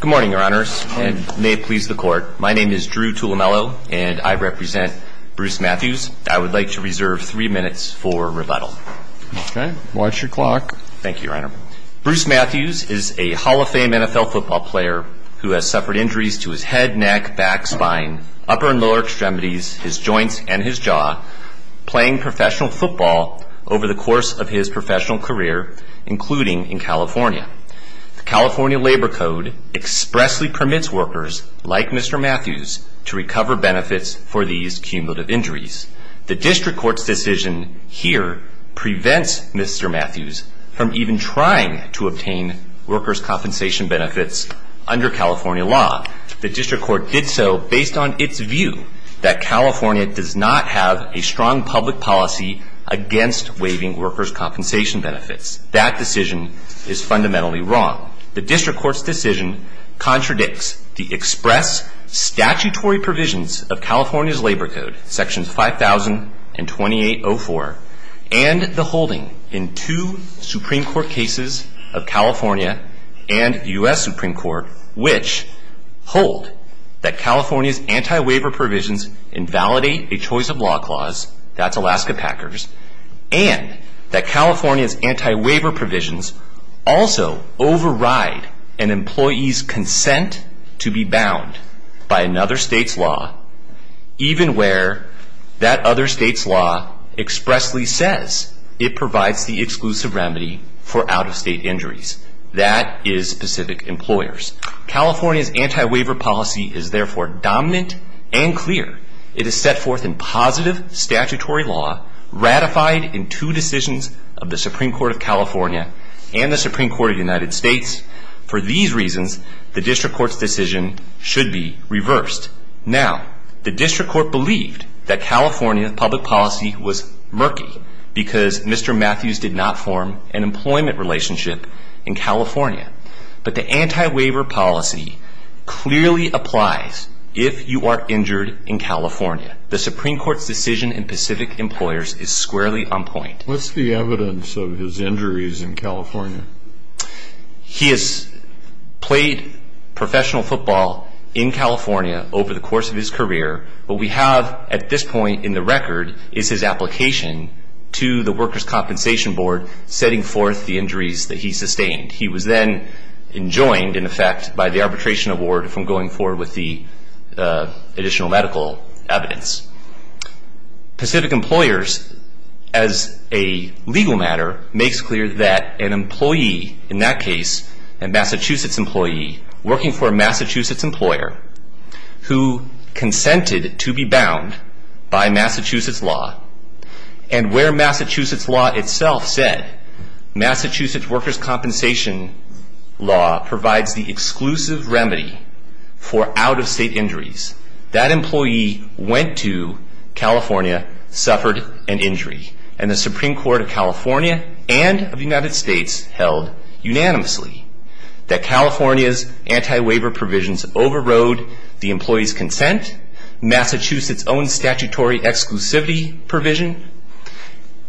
Good morning, your honors, and may it please the court. My name is Drew Tulemelo, and I represent Bruce Matthews. I would like to reserve three minutes for rebuttal. Okay. Watch your clock. Thank you, your honor. Bruce Matthews is a Hall of Fame NFL football player who has suffered injuries to his head, neck, back, spine, upper and lower extremities, his joints, and his jaw, playing professional football over the course of his professional career, including in California. The California Labor Code expressly permits workers like Mr. Matthews to recover benefits for these cumulative injuries. The district court's decision here prevents Mr. Matthews from even trying to obtain workers' compensation benefits under California law. The district court did so based on its view that California does not have a strong public policy against waiving workers' compensation benefits. That decision is fundamentally wrong. The district court's decision contradicts the express statutory provisions of California's Labor Code, sections 5000 and 2804, and the holding in two Supreme Court cases of California and the U.S. Supreme Court, which hold that California's anti-waiver provisions invalidate a choice of law clause, that's Alaska Packers, and that California's anti-waiver provisions also override an employee's consent to be bound by another state's law, even where that other state's law expressly says it provides the exclusive remedy for out-of-state injuries. That is specific employers. California's anti-waiver policy is therefore dominant and clear. It is set forth in positive statutory law, ratified in two decisions of the Supreme Court of California and the Supreme Court of the United States. For these reasons, the district court's decision should be reversed. Now, the district court believed that California's public policy was murky because Mr. Matthews did not form an employment relationship in California. But the anti-waiver policy clearly applies if you are injured in California. The Supreme Court's decision in Pacific Employers is squarely on point. What's the evidence of his injuries in California? He has played professional football in California over the course of his career. What we have at this point in the record is his application to the Workers' Compensation Board setting forth the injuries that he sustained. He was then enjoined, in effect, by the Arbitration Award from going forward with the additional medical evidence. Pacific Employers, as a legal matter, makes clear that an employee, in that case a Massachusetts employee, working for a Massachusetts employer who consented to be bound by Massachusetts law, and where Massachusetts law itself said, Massachusetts workers' compensation law provides the exclusive remedy for out-of-state injuries, that employee went to California, suffered an injury. And the Supreme Court of California and of the United States held unanimously that California's anti-waiver provisions overrode the employee's consent, Massachusetts' own statutory exclusivity provision,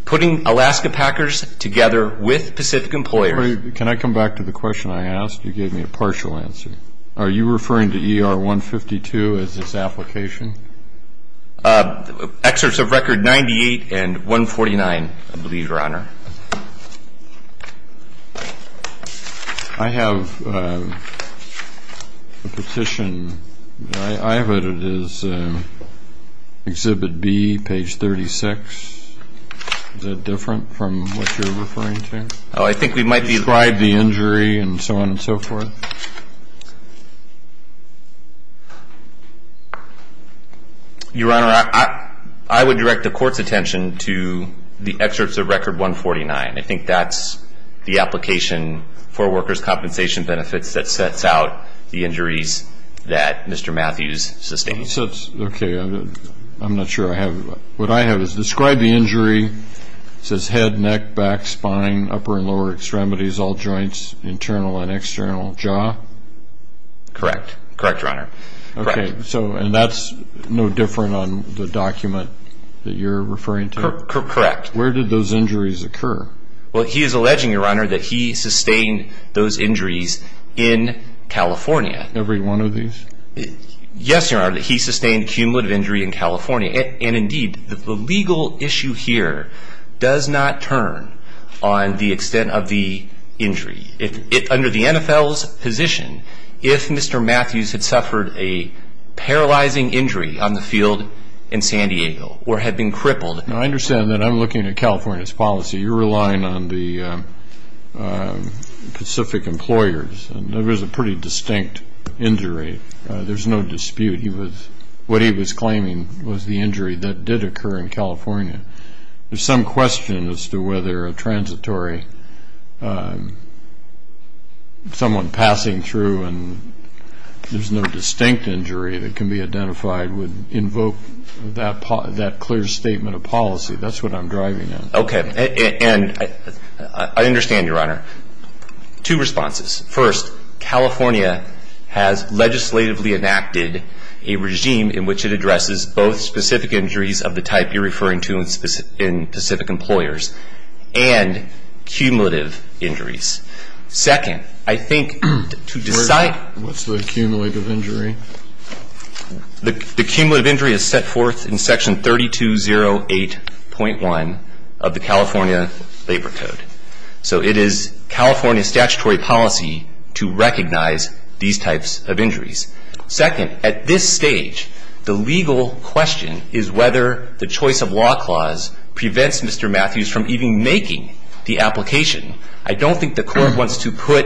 putting Alaska Packers together with Pacific Employers. Can I come back to the question I asked? You gave me a partial answer. Are you referring to ER 152 as its application? Excerpts of record 98 and 149, I believe, Your Honor. I have a petition. I have it as Exhibit B, page 36. Is that different from what you're referring to? I think we might be. Describe the injury and so on and so forth. Your Honor, I would direct the Court's attention to the excerpts of record 149. I think that's the application for workers' compensation benefits that sets out the injuries that Mr. Matthews sustains. Okay. I'm not sure I have it. What I have is describe the injury. It says head, neck, back, spine, upper and lower extremities, all joints, internal and external, jaw, Correct. Correct, Your Honor. Okay, and that's no different on the document that you're referring to? Correct. Where did those injuries occur? Well, he is alleging, Your Honor, that he sustained those injuries in California. Every one of these? Yes, Your Honor, that he sustained cumulative injury in California. And, indeed, the legal issue here does not turn on the extent of the injury. Under the NFL's position, if Mr. Matthews had suffered a paralyzing injury on the field in San Diego or had been crippled. I understand that. I'm looking at California's policy. You're relying on the Pacific employers. It was a pretty distinct injury. There's no dispute. What he was claiming was the injury that did occur in California. There's some question as to whether a transitory, someone passing through and there's no distinct injury that can be identified would invoke that clear statement of policy. That's what I'm driving at. Okay, and I understand, Your Honor. Two responses. First, California has legislatively enacted a regime in which it addresses both specific injuries of the type you're referring to in Pacific employers and cumulative injuries. Second, I think to decide. What's the cumulative injury? The cumulative injury is set forth in Section 3208.1 of the California Labor Code. So it is California's statutory policy to recognize these types of injuries. Second, at this stage, the legal question is whether the choice of law clause prevents Mr. Matthews from even making the application. I don't think the court wants to put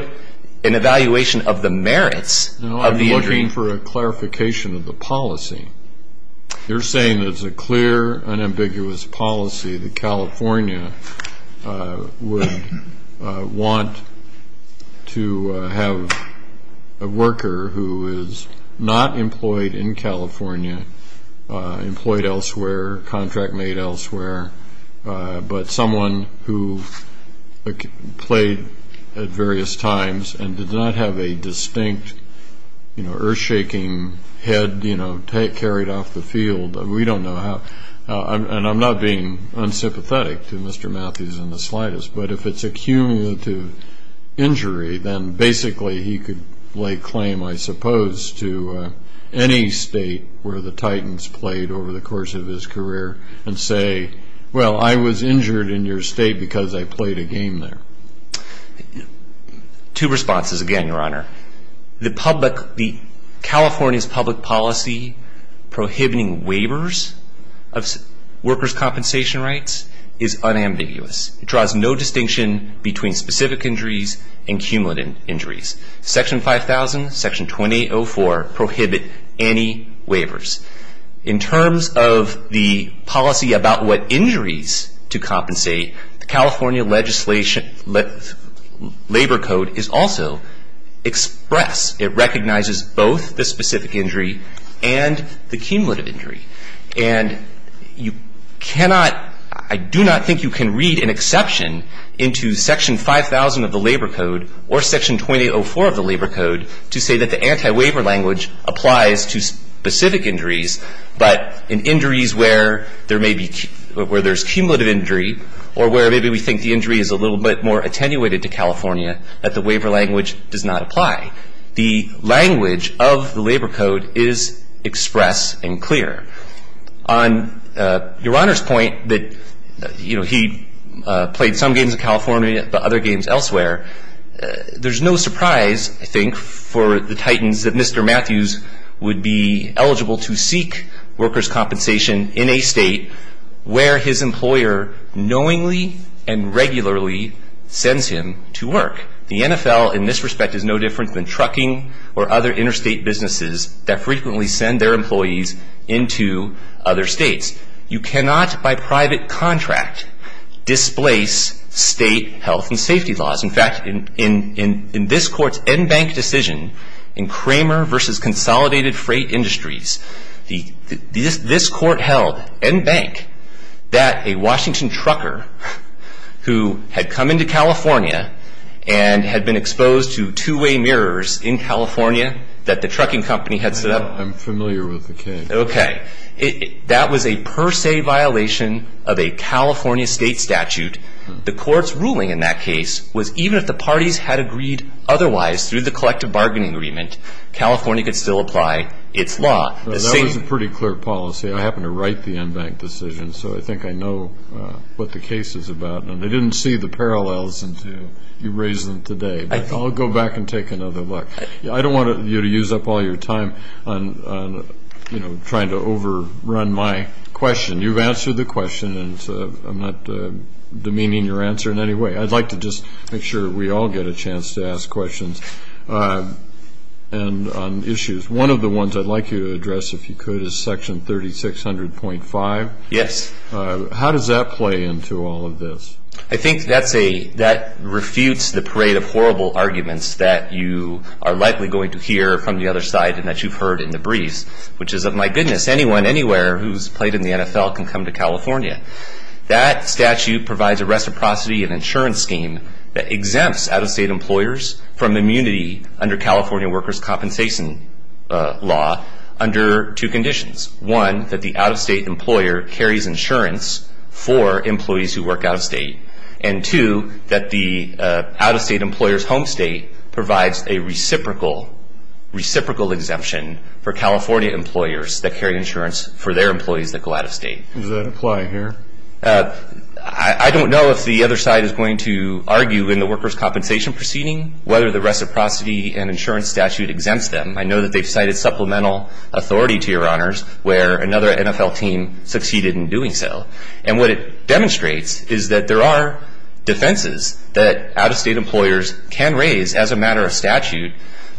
an evaluation of the merits of the injury. No, I'm looking for a clarification of the policy. You're saying there's a clear, unambiguous policy that California would want to have a worker who is not employed in California, employed elsewhere, contract made elsewhere, but someone who played at various times and did not have a distinct, you know, earth-shaking head, you know, carried off the field. We don't know how. And I'm not being unsympathetic to Mr. Matthews in the slightest. But if it's a cumulative injury, then basically he could lay claim, I suppose, to any state where the Titans played over the course of his career and say, well, I was injured in your state because I played a game there. Two responses again, Your Honor. The California's public policy prohibiting waivers of workers' compensation rights is unambiguous. It draws no distinction between specific injuries and cumulative injuries. Section 5000, Section 2804 prohibit any waivers. In terms of the policy about what injuries to compensate, the California Labor Code is also express. It recognizes both the specific injury and the cumulative injury. And you cannot, I do not think you can read an exception into Section 5000 of the Labor Code or Section 2804 of the Labor Code to say that the anti-waiver language applies to specific injuries, but in injuries where there may be, where there's cumulative injury or where maybe we think the injury is a little bit more attenuated to California, that the waiver language does not apply. The language of the Labor Code is express and clear. On Your Honor's point that, you know, he played some games in California but other games elsewhere, there's no surprise I think for the Titans that Mr. Matthews would be eligible to seek workers' compensation in a state where his employer knowingly and regularly sends him to work. The NFL in this respect is no different than trucking or other interstate businesses that frequently send their employees into other states. You cannot by private contract displace state health and safety laws. In fact, in this court's en banc decision in Kramer versus Consolidated Freight Industries, this court held en banc that a Washington trucker who had come into California and had been exposed to two-way mirrors in California that the trucking company had set up. I'm familiar with the case. Okay. That was a per se violation of a California state statute. The court's ruling in that case was even if the parties had agreed otherwise through the collective bargaining agreement, California could still apply its law. That was a pretty clear policy. I happen to write the en banc decision, so I think I know what the case is about. And I didn't see the parallels until you raised them today. But I'll go back and take another look. I don't want you to use up all your time on, you know, trying to overrun my question. You've answered the question, and I'm not demeaning your answer in any way. I'd like to just make sure we all get a chance to ask questions on issues. One of the ones I'd like you to address, if you could, is Section 3600.5. Yes. How does that play into all of this? I think that refutes the parade of horrible arguments that you are likely going to hear from the other side and that you've heard in the briefs, which is, oh, my goodness, anyone anywhere who's played in the NFL can come to California. That statute provides a reciprocity and insurance scheme that exempts out-of-state employers from immunity under California workers' compensation law under two conditions. One, that the out-of-state employer carries insurance for employees who work out-of-state. And two, that the out-of-state employer's home state provides a reciprocal, reciprocal exemption for California employers that carry insurance for their employees that go out-of-state. Does that apply here? I don't know if the other side is going to argue in the workers' compensation proceeding whether the reciprocity and insurance statute exempts them. I know that they've cited supplemental authority, to your honors, where another NFL team succeeded in doing so. And what it demonstrates is that there are defenses that out-of-state employers can raise as a matter of statute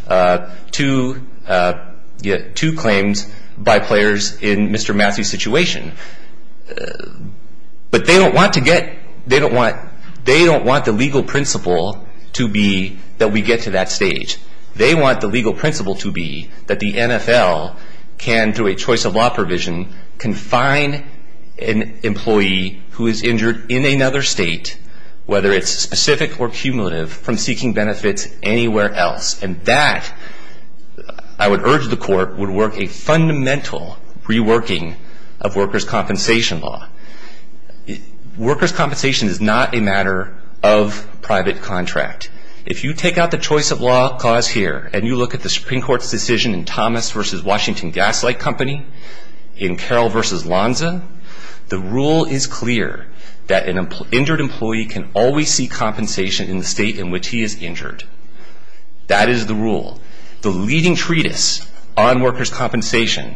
to claims by players in Mr. Massey's situation. But they don't want to get, they don't want, they don't want the legal principle to be that we get to that stage. They want the legal principle to be that the NFL can, through a choice of law provision, confine an employee who is injured in another state, whether it's specific or cumulative, from seeking benefits anywhere else. And that, I would urge the court, would work a fundamental reworking of workers' compensation law. Workers' compensation is not a matter of private contract. If you take out the choice of law clause here, and you look at the Supreme Court's decision in Thomas v. Washington Gaslight Company, in Carroll v. Lonza, the rule is clear that an injured employee can always seek compensation in the state in which he is injured. That is the rule. The leading treatise on workers' compensation,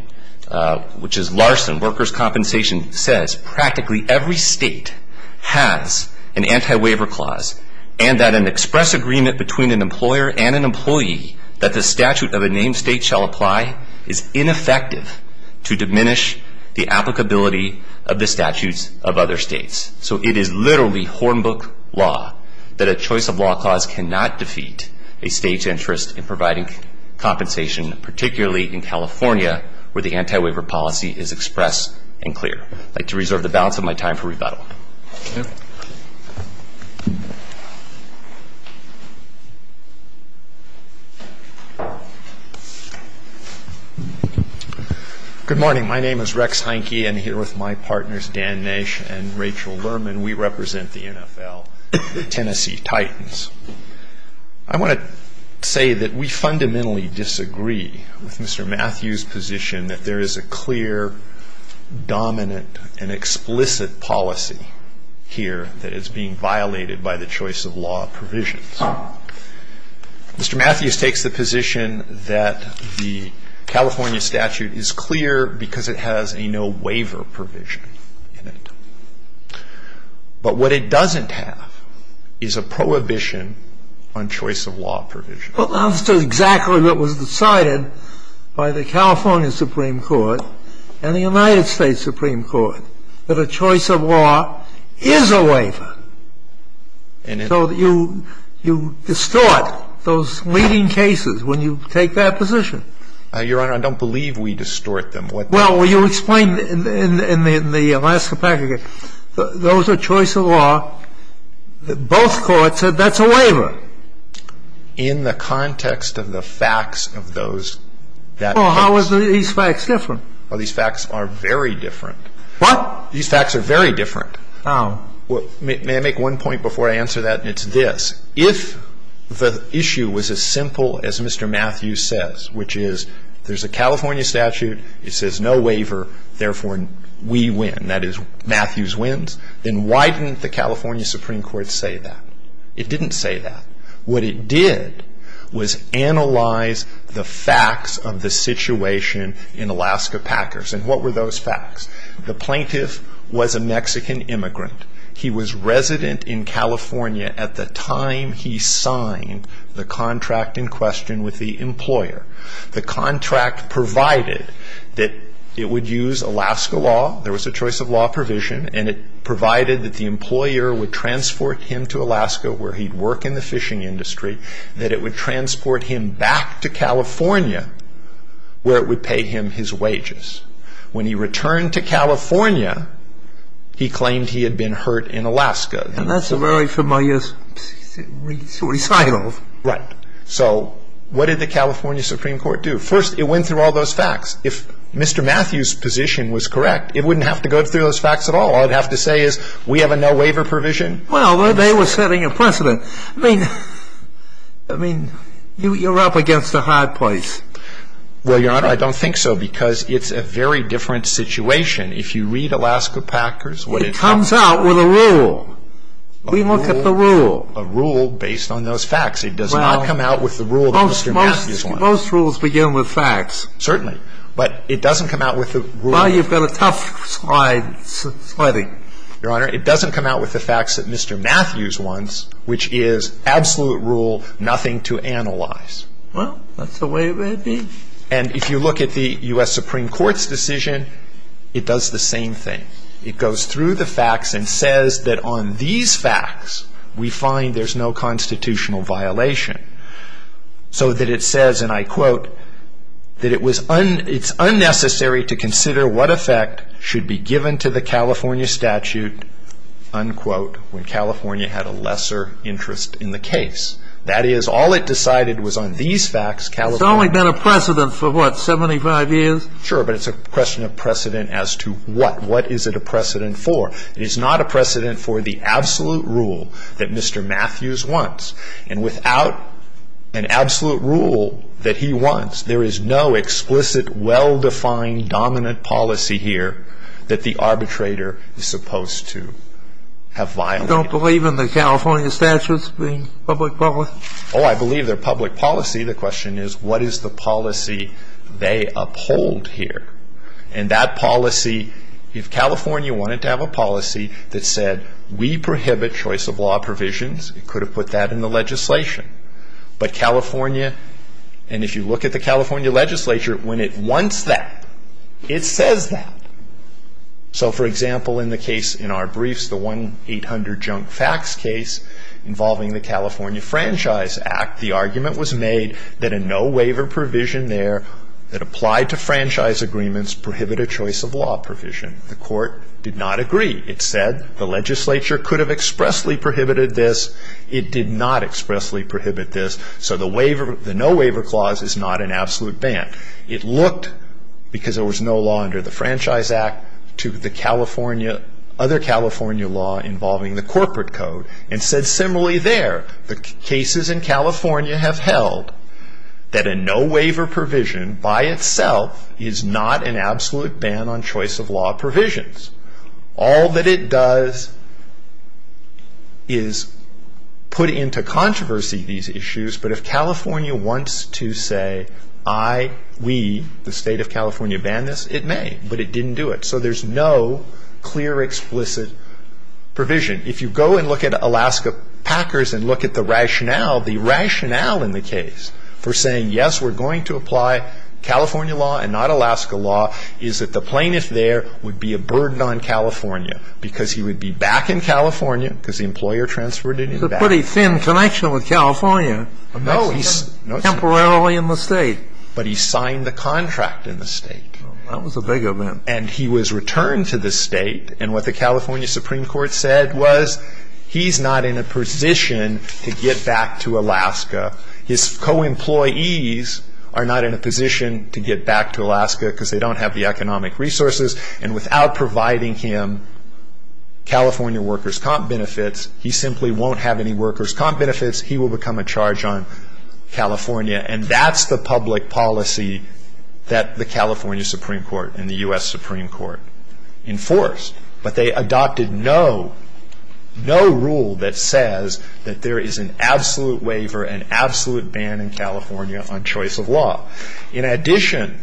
which is Larson Workers' Compensation, says practically every state has an anti-waiver clause, and that an express agreement between an employer and an employee that the statute of a named state shall apply is ineffective to diminish the applicability of the statutes of other states. So it is literally hornbook law that a choice of law clause cannot defeat a state's interest in providing compensation, particularly in California, where the anti-waiver policy is expressed and clear. I'd like to reserve the balance of my time for rebuttal. Thank you. Good morning. My name is Rex Heinke, and here with my partners, Dan Nash and Rachel Lerman, we represent the NFL, the Tennessee Titans. I want to say that we fundamentally disagree with Mr. Matthews' position that there is a clear, dominant, and explicit policy here that is being violated by the choice of law provisions. Mr. Matthews takes the position that the California statute is clear because it has a no-waiver provision in it. But what it doesn't have is a prohibition on choice of law provisions. Well, that's exactly what was decided by the California Supreme Court and the United States Supreme Court, that a choice of law is a waiver. And it's so that you distort those leading cases when you take that position. Your Honor, I don't believe we distort them. Well, you explained in the Alaska package, those are choice of law. Both courts said that's a waiver. In the context of the facts of those. Well, how are these facts different? Well, these facts are very different. What? These facts are very different. Oh. May I make one point before I answer that? It's this. If the issue was as simple as Mr. Matthews says, which is there's a California statute. It says no waiver. Therefore, we win. That is, Matthews wins. Then why didn't the California Supreme Court say that? It didn't say that. What it did was analyze the facts of the situation in Alaska Packers. And what were those facts? The plaintiff was a Mexican immigrant. He was resident in California at the time he signed the contract in question with the employer. The contract provided that it would use Alaska law. There was a choice of law provision. And it provided that the employer would transport him to Alaska where he'd work in the fishing industry. That it would transport him back to California where it would pay him his wages. When he returned to California, he claimed he had been hurt in Alaska. And that's a very familiar recital. Right. So what did the California Supreme Court do? First, it went through all those facts. If Mr. Matthews' position was correct, it wouldn't have to go through those facts at all. All it would have to say is we have a no waiver provision. Well, they were setting a precedent. I mean, you're up against a hard place. Well, Your Honor, I don't think so because it's a very different situation. If you read Alaska Packers, what it comes out with a rule. We look at the rule. A rule based on those facts. It does not come out with the rule that Mr. Matthews wants. Most rules begin with facts. Certainly. But it doesn't come out with the rule. Well, you've got a tough slide. Your Honor, it doesn't come out with the facts that Mr. Matthews wants, which is absolute rule, nothing to analyze. Well, that's the way it may be. And if you look at the U.S. Supreme Court's decision, it does the same thing. It goes through the facts and says that on these facts, we find there's no constitutional violation. So that it says, and I quote, that it's unnecessary to consider what effect should be given to the California statute, unquote, when California had a lesser interest in the case. That is, all it decided was on these facts, California. It's only been a precedent for, what, 75 years? Sure, but it's a question of precedent as to what. What is it a precedent for? It is not a precedent for the absolute rule that Mr. Matthews wants. And without an absolute rule that he wants, there is no explicit, well-defined, dominant policy here that the arbitrator is supposed to have violated. You don't believe in the California statutes being public-public? Oh, I believe they're public policy. The question is, what is the policy they uphold here? And that policy, if California wanted to have a policy that said, we prohibit choice of law provisions, it could have put that in the legislation. But California, and if you look at the California legislature, when it wants that, it says that. So, for example, in the case in our briefs, the 1-800-JUNK-FACTS case involving the California Franchise Act, the argument was made that a no-waiver provision there that applied to franchise agreements prohibited choice of law provision. The court did not agree. It said the legislature could have expressly prohibited this. It did not expressly prohibit this. So the no-waiver clause is not an absolute ban. It looked, because there was no law under the Franchise Act, to the California, other California law involving the corporate code, and said similarly there, the cases in California have held that a no-waiver provision by itself is not an absolute ban on choice of law provisions. All that it does is put into controversy these issues, but if California wants to say, I, we, the State of California banned this, it may, but it didn't do it. So there's no clear, explicit provision. If you go and look at Alaska Packers and look at the rationale, the rationale in the case for saying, yes, we're going to apply California law and not Alaska law, is that the plaintiff there would be a burden on California because he would be back in California because the employer transferred him back. He had a pretty thin connection with California temporarily in the state. But he signed the contract in the state. That was a big event. And he was returned to the state, and what the California Supreme Court said was he's not in a position to get back to Alaska. His co-employees are not in a position to get back to Alaska because they don't have the economic resources, and without providing him California workers' comp benefits, he simply won't have any workers' comp benefits. He will become a charge on California, and that's the public policy that the California Supreme Court and the U.S. Supreme Court enforced. But they adopted no, no rule that says that there is an absolute waiver, an absolute ban in California on choice of law. In addition,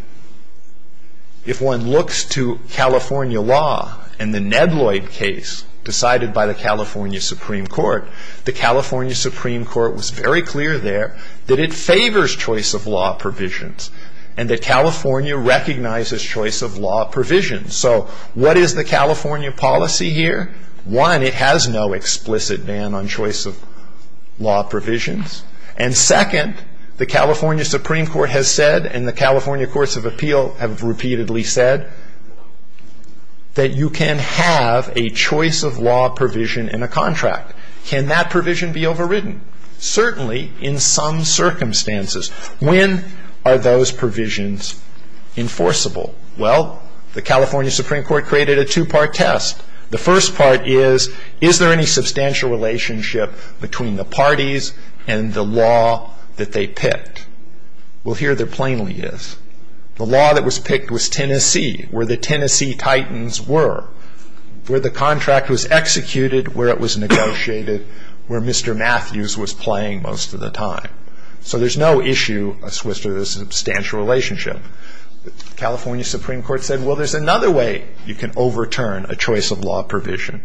if one looks to California law and the Nedloyd case decided by the California Supreme Court, the California Supreme Court was very clear there that it favors choice of law provisions and that California recognizes choice of law provisions. So what is the California policy here? One, it has no explicit ban on choice of law provisions. And second, the California Supreme Court has said and the California Courts of Appeal have repeatedly said that you can have a choice of law provision in a contract. Can that provision be overridden? Certainly in some circumstances. When are those provisions enforceable? Well, the California Supreme Court created a two-part test. The first part is, is there any substantial relationship between the parties and the law that they picked? Well, here there plainly is. The law that was picked was Tennessee, where the Tennessee Titans were, where the contract was executed, where it was negotiated, where Mr. Matthews was playing most of the time. So there's no issue as to whether there's a substantial relationship. The California Supreme Court said, well, there's another way you can overturn a choice of law provision.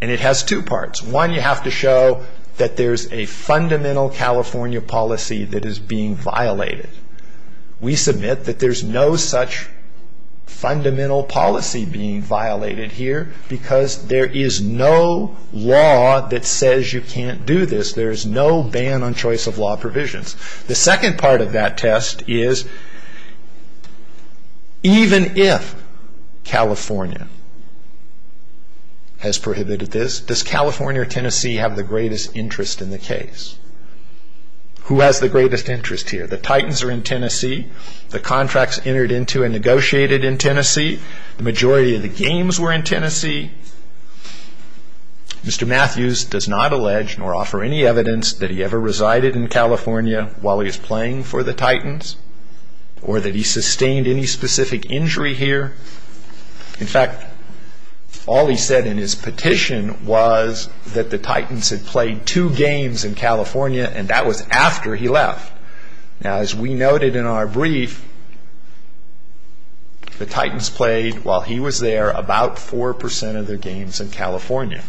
And it has two parts. One, you have to show that there's a fundamental California policy that is being violated. We submit that there's no such fundamental policy being violated here because there is no law that says you can't do this. There's no ban on choice of law provisions. The second part of that test is, even if California has prohibited this, does California or Tennessee have the greatest interest in the case? Who has the greatest interest here? The Titans are in Tennessee. The contract's entered into and negotiated in Tennessee. The majority of the games were in Tennessee. Mr. Matthews does not allege nor offer any evidence that he ever resided in California while he was playing for the Titans or that he sustained any specific injury here. In fact, all he said in his petition was that the Titans had played two games in California, and that was after he left. Now, as we noted in our brief, the Titans played, while he was there, about 4% of their games in California.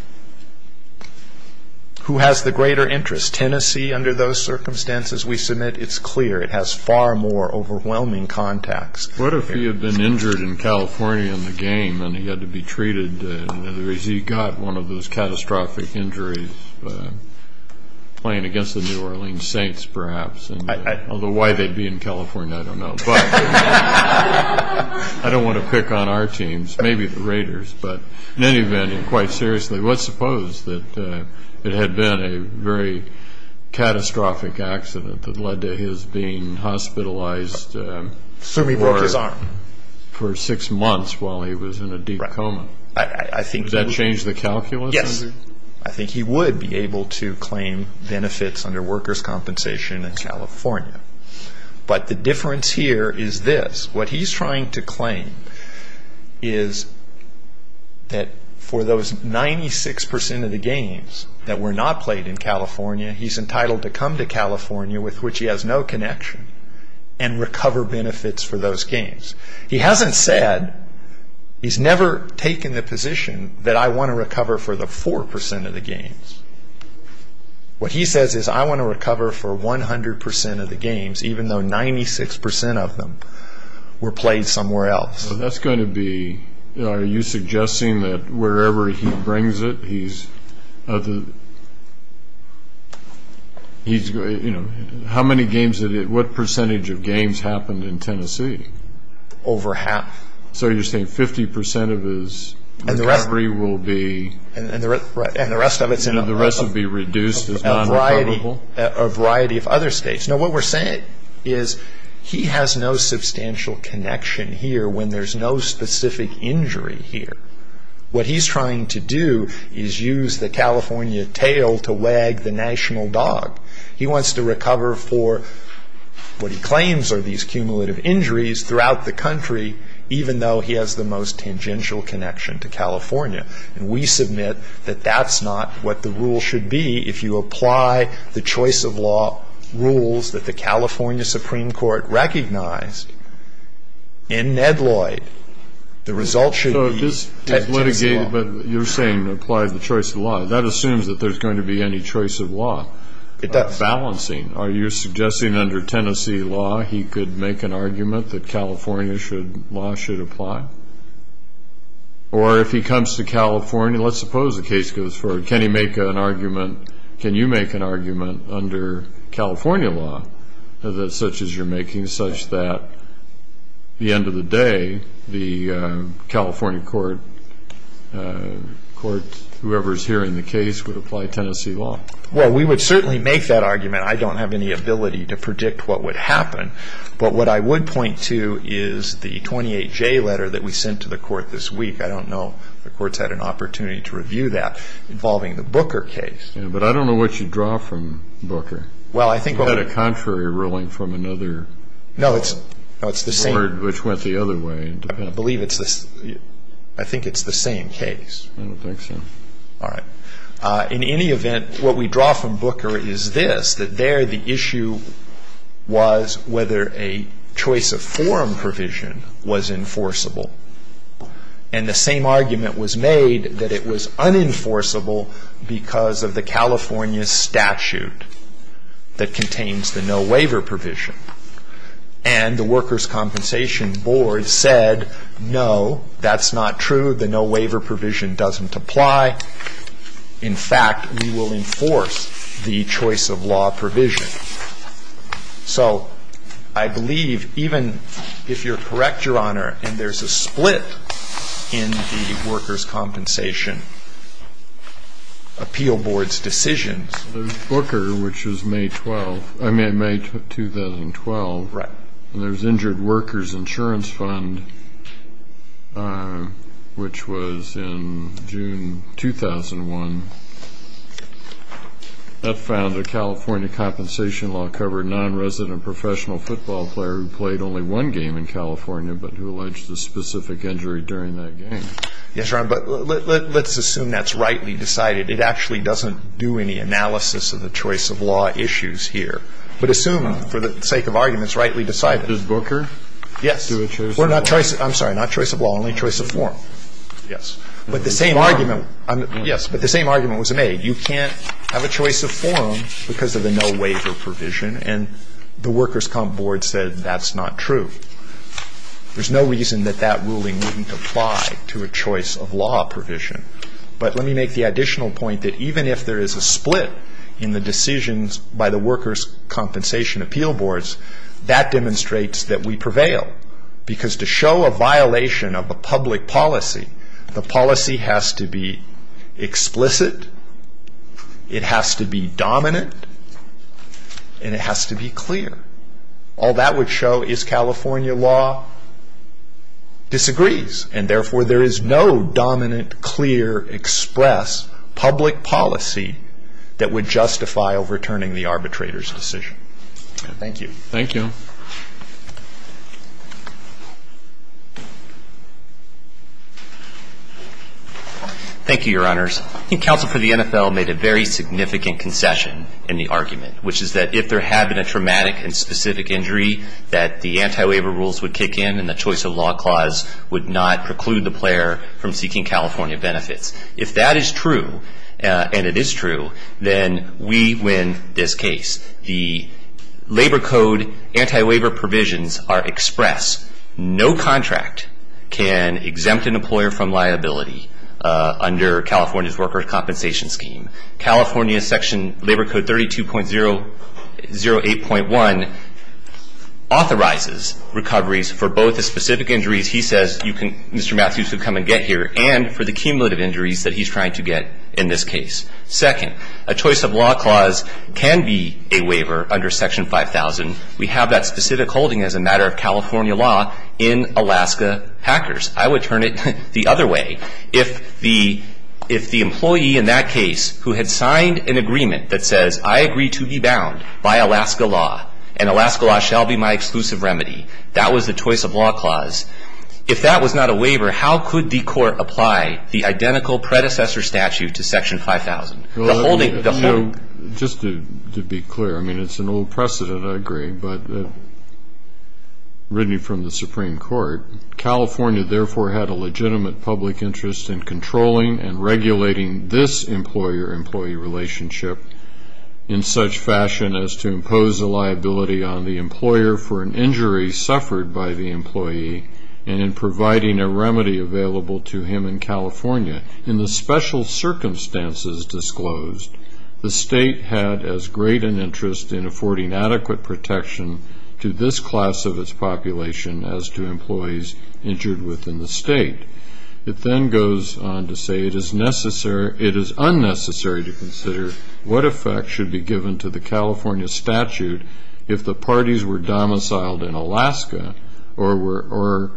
Who has the greater interest? Tennessee, under those circumstances we submit, it's clear. It has far more overwhelming contacts. What if he had been injured in California in the game and he had to be treated? In other words, he got one of those catastrophic injuries playing against the New Orleans Saints, perhaps. Although why they'd be in California, I don't know. But I don't want to pick on our teams, maybe the Raiders. But in any event, and quite seriously, let's suppose that it had been a very catastrophic accident that led to his being hospitalized for six months while he was in a deep coma. Would that change the calculus? Yes. I think he would be able to claim benefits under workers' compensation in California. But the difference here is this. What he's trying to claim is that for those 96% of the games that were not played in California, he's entitled to come to California, with which he has no connection, and recover benefits for those games. He hasn't said, he's never taken the position that I want to recover for the 4% of the games. What he says is I want to recover for 100% of the games, even though 96% of them were played somewhere else. That's going to be, are you suggesting that wherever he brings it, what percentage of games happened in Tennessee? Over half. So you're saying 50% of his recovery will be, and the rest will be reduced as non-recoverable? A variety of other states. No, what we're saying is he has no substantial connection here when there's no specific injury here. What he's trying to do is use the California tail to wag the national dog. He wants to recover for what he claims are these cumulative injuries throughout the country, even though he has the most tangential connection to California. And we submit that that's not what the rule should be. If you apply the choice of law rules that the California Supreme Court recognized, in Ned Lloyd, the result should be Tennessee law. But you're saying apply the choice of law. That assumes that there's going to be any choice of law. It does. Balancing. Are you suggesting under Tennessee law he could make an argument that California law should apply? Or if he comes to California, let's suppose the case goes forward, can he make an argument, can you make an argument under California law such as you're making, such that at the end of the day the California court, whoever is hearing the case, would apply Tennessee law? Well, we would certainly make that argument. I don't have any ability to predict what would happen. But what I would point to is the 28J letter that we sent to the court this week, I don't know if the court's had an opportunity to review that, involving the Booker case. But I don't know what you draw from Booker. Well, I think what we. You had a contrary ruling from another. No, it's the same. Which went the other way. I believe it's, I think it's the same case. I don't think so. All right. In any event, what we draw from Booker is this, that there the issue was whether a choice of forum provision was enforceable. And the same argument was made that it was unenforceable because of the California statute that contains the no waiver provision. And the Workers' Compensation Board said, no, that's not true. The no waiver provision doesn't apply. In fact, we will enforce the choice of law provision. So I believe even if you're correct, Your Honor, and there's a split in the Workers' Compensation Appeal Board's decisions. There's Booker, which is May 12th, I mean May 2012. Right. And there's Injured Workers Insurance Fund, which was in June 2001. That found a California compensation law covered nonresident professional football player who played only one game in California but who alleged a specific injury during that game. Yes, Your Honor, but let's assume that's rightly decided. It actually doesn't do any analysis of the choice of law issues here. But assume, for the sake of arguments, rightly decided. Does Booker do a choice of law? I'm sorry, not choice of law, only choice of forum. Yes. But the same argument was made. You can't have a choice of forum because of the no waiver provision, and the Workers' Compensation Board said that's not true. There's no reason that that ruling wouldn't apply to a choice of law provision. But let me make the additional point that even if there is a split in the decisions by the Workers' Compensation Appeal Boards, that demonstrates that we prevail. Because to show a violation of a public policy, the policy has to be explicit, it has to be dominant, and it has to be clear. All that would show is California law disagrees, and therefore there is no dominant, clear, express public policy that would justify overturning the arbitrator's decision. Thank you. Thank you. Thank you, Your Honors. I think counsel for the NFL made a very significant concession in the argument, which is that if there had been a traumatic and specific injury, that the anti-waiver rules would kick in and the choice of law clause would not preclude the player from seeking California benefits. If that is true, and it is true, then we win this case. The labor code anti-waiver provisions are express. No contract can exempt an employer from liability under California's workers' compensation scheme. California section labor code 32.008.1 authorizes recoveries for both the specific injuries he says you can, Mr. Matthews can come and get here, and for the cumulative injuries that he's trying to get in this case. Second, a choice of law clause can be a waiver under section 5000. We have that specific holding as a matter of California law in Alaska hackers. I would turn it the other way. If the employee in that case who had signed an agreement that says, I agree to be bound by Alaska law, and Alaska law shall be my exclusive remedy, that was the choice of law clause. If that was not a waiver, how could the court apply the identical predecessor statute to section 5000? Just to be clear, I mean, it's an old precedent, I agree, but written from the Supreme Court, California therefore had a legitimate public interest in controlling and regulating this employer-employee relationship in such fashion as to impose a liability on the employer for an injury suffered by the employee and in providing a remedy available to him in California. In the special circumstances disclosed, the state had as great an interest in affording adequate protection to this class of its population as to employees injured within the state. It then goes on to say it is unnecessary to consider what effect should be given to the California statute if the parties were domiciled in Alaska or were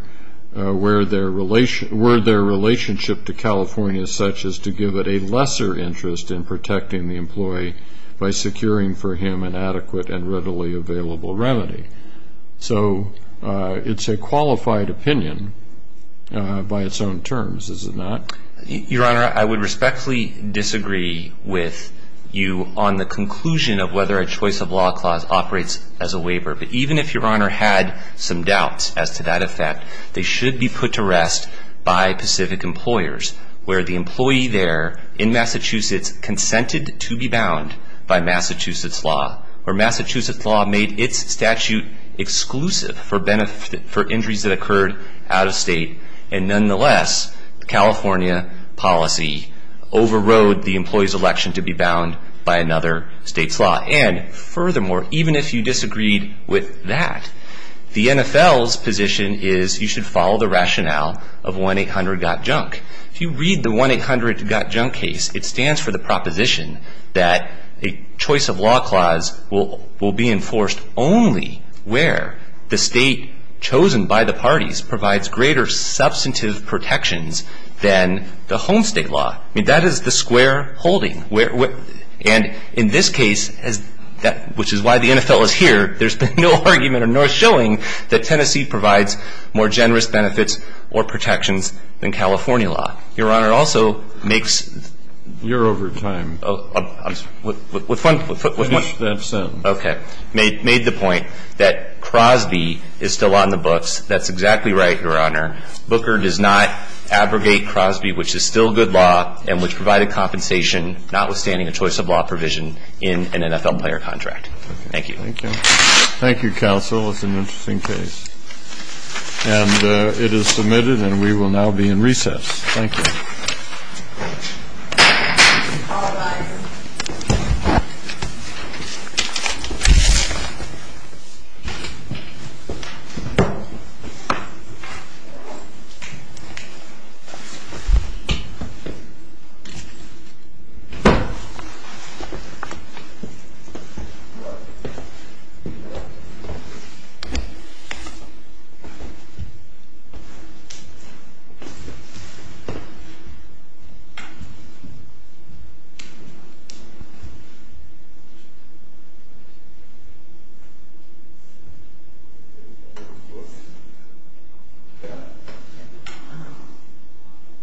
their relationship to California such as to give it a lesser interest in protecting the employee by securing for him an adequate and readily available remedy. So it's a qualified opinion by its own terms, is it not? Your Honor, I would respectfully disagree with you on the conclusion of whether a choice of law clause operates as a waiver, but even if Your Honor had some doubts as to that effect, they should be put to rest by Pacific employers where the employee there in Massachusetts consented to be bound by Massachusetts law or Massachusetts law made its statute exclusive for injuries that occurred out of state and nonetheless California policy overrode the employee's election to be bound by another state's law. And furthermore, even if you disagreed with that, the NFL's position is you should follow the rationale of 1-800-GOT-JUNK. If you read the 1-800-GOT-JUNK case, it stands for the proposition that a choice of law clause will be enforced only where the state chosen by the parties provides greater substantive protections than the home state law. I mean, that is the square holding. And in this case, which is why the NFL is here, there's been no argument or no showing that Tennessee provides more generous benefits or protections than California law. Your Honor, it also makes... You're over time. With one... Finish that sentence. Okay. Made the point that Crosby is still on the books. That's exactly right, Your Honor. Booker does not abrogate Crosby, which is still good law and which provided compensation, notwithstanding a choice of law provision in an NFL player contract. Thank you. Thank you. Thank you, counsel. It's an interesting case. And it is submitted, and we will now be in recess. Thank you.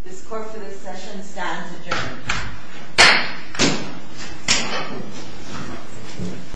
This court for this session stands adjourned.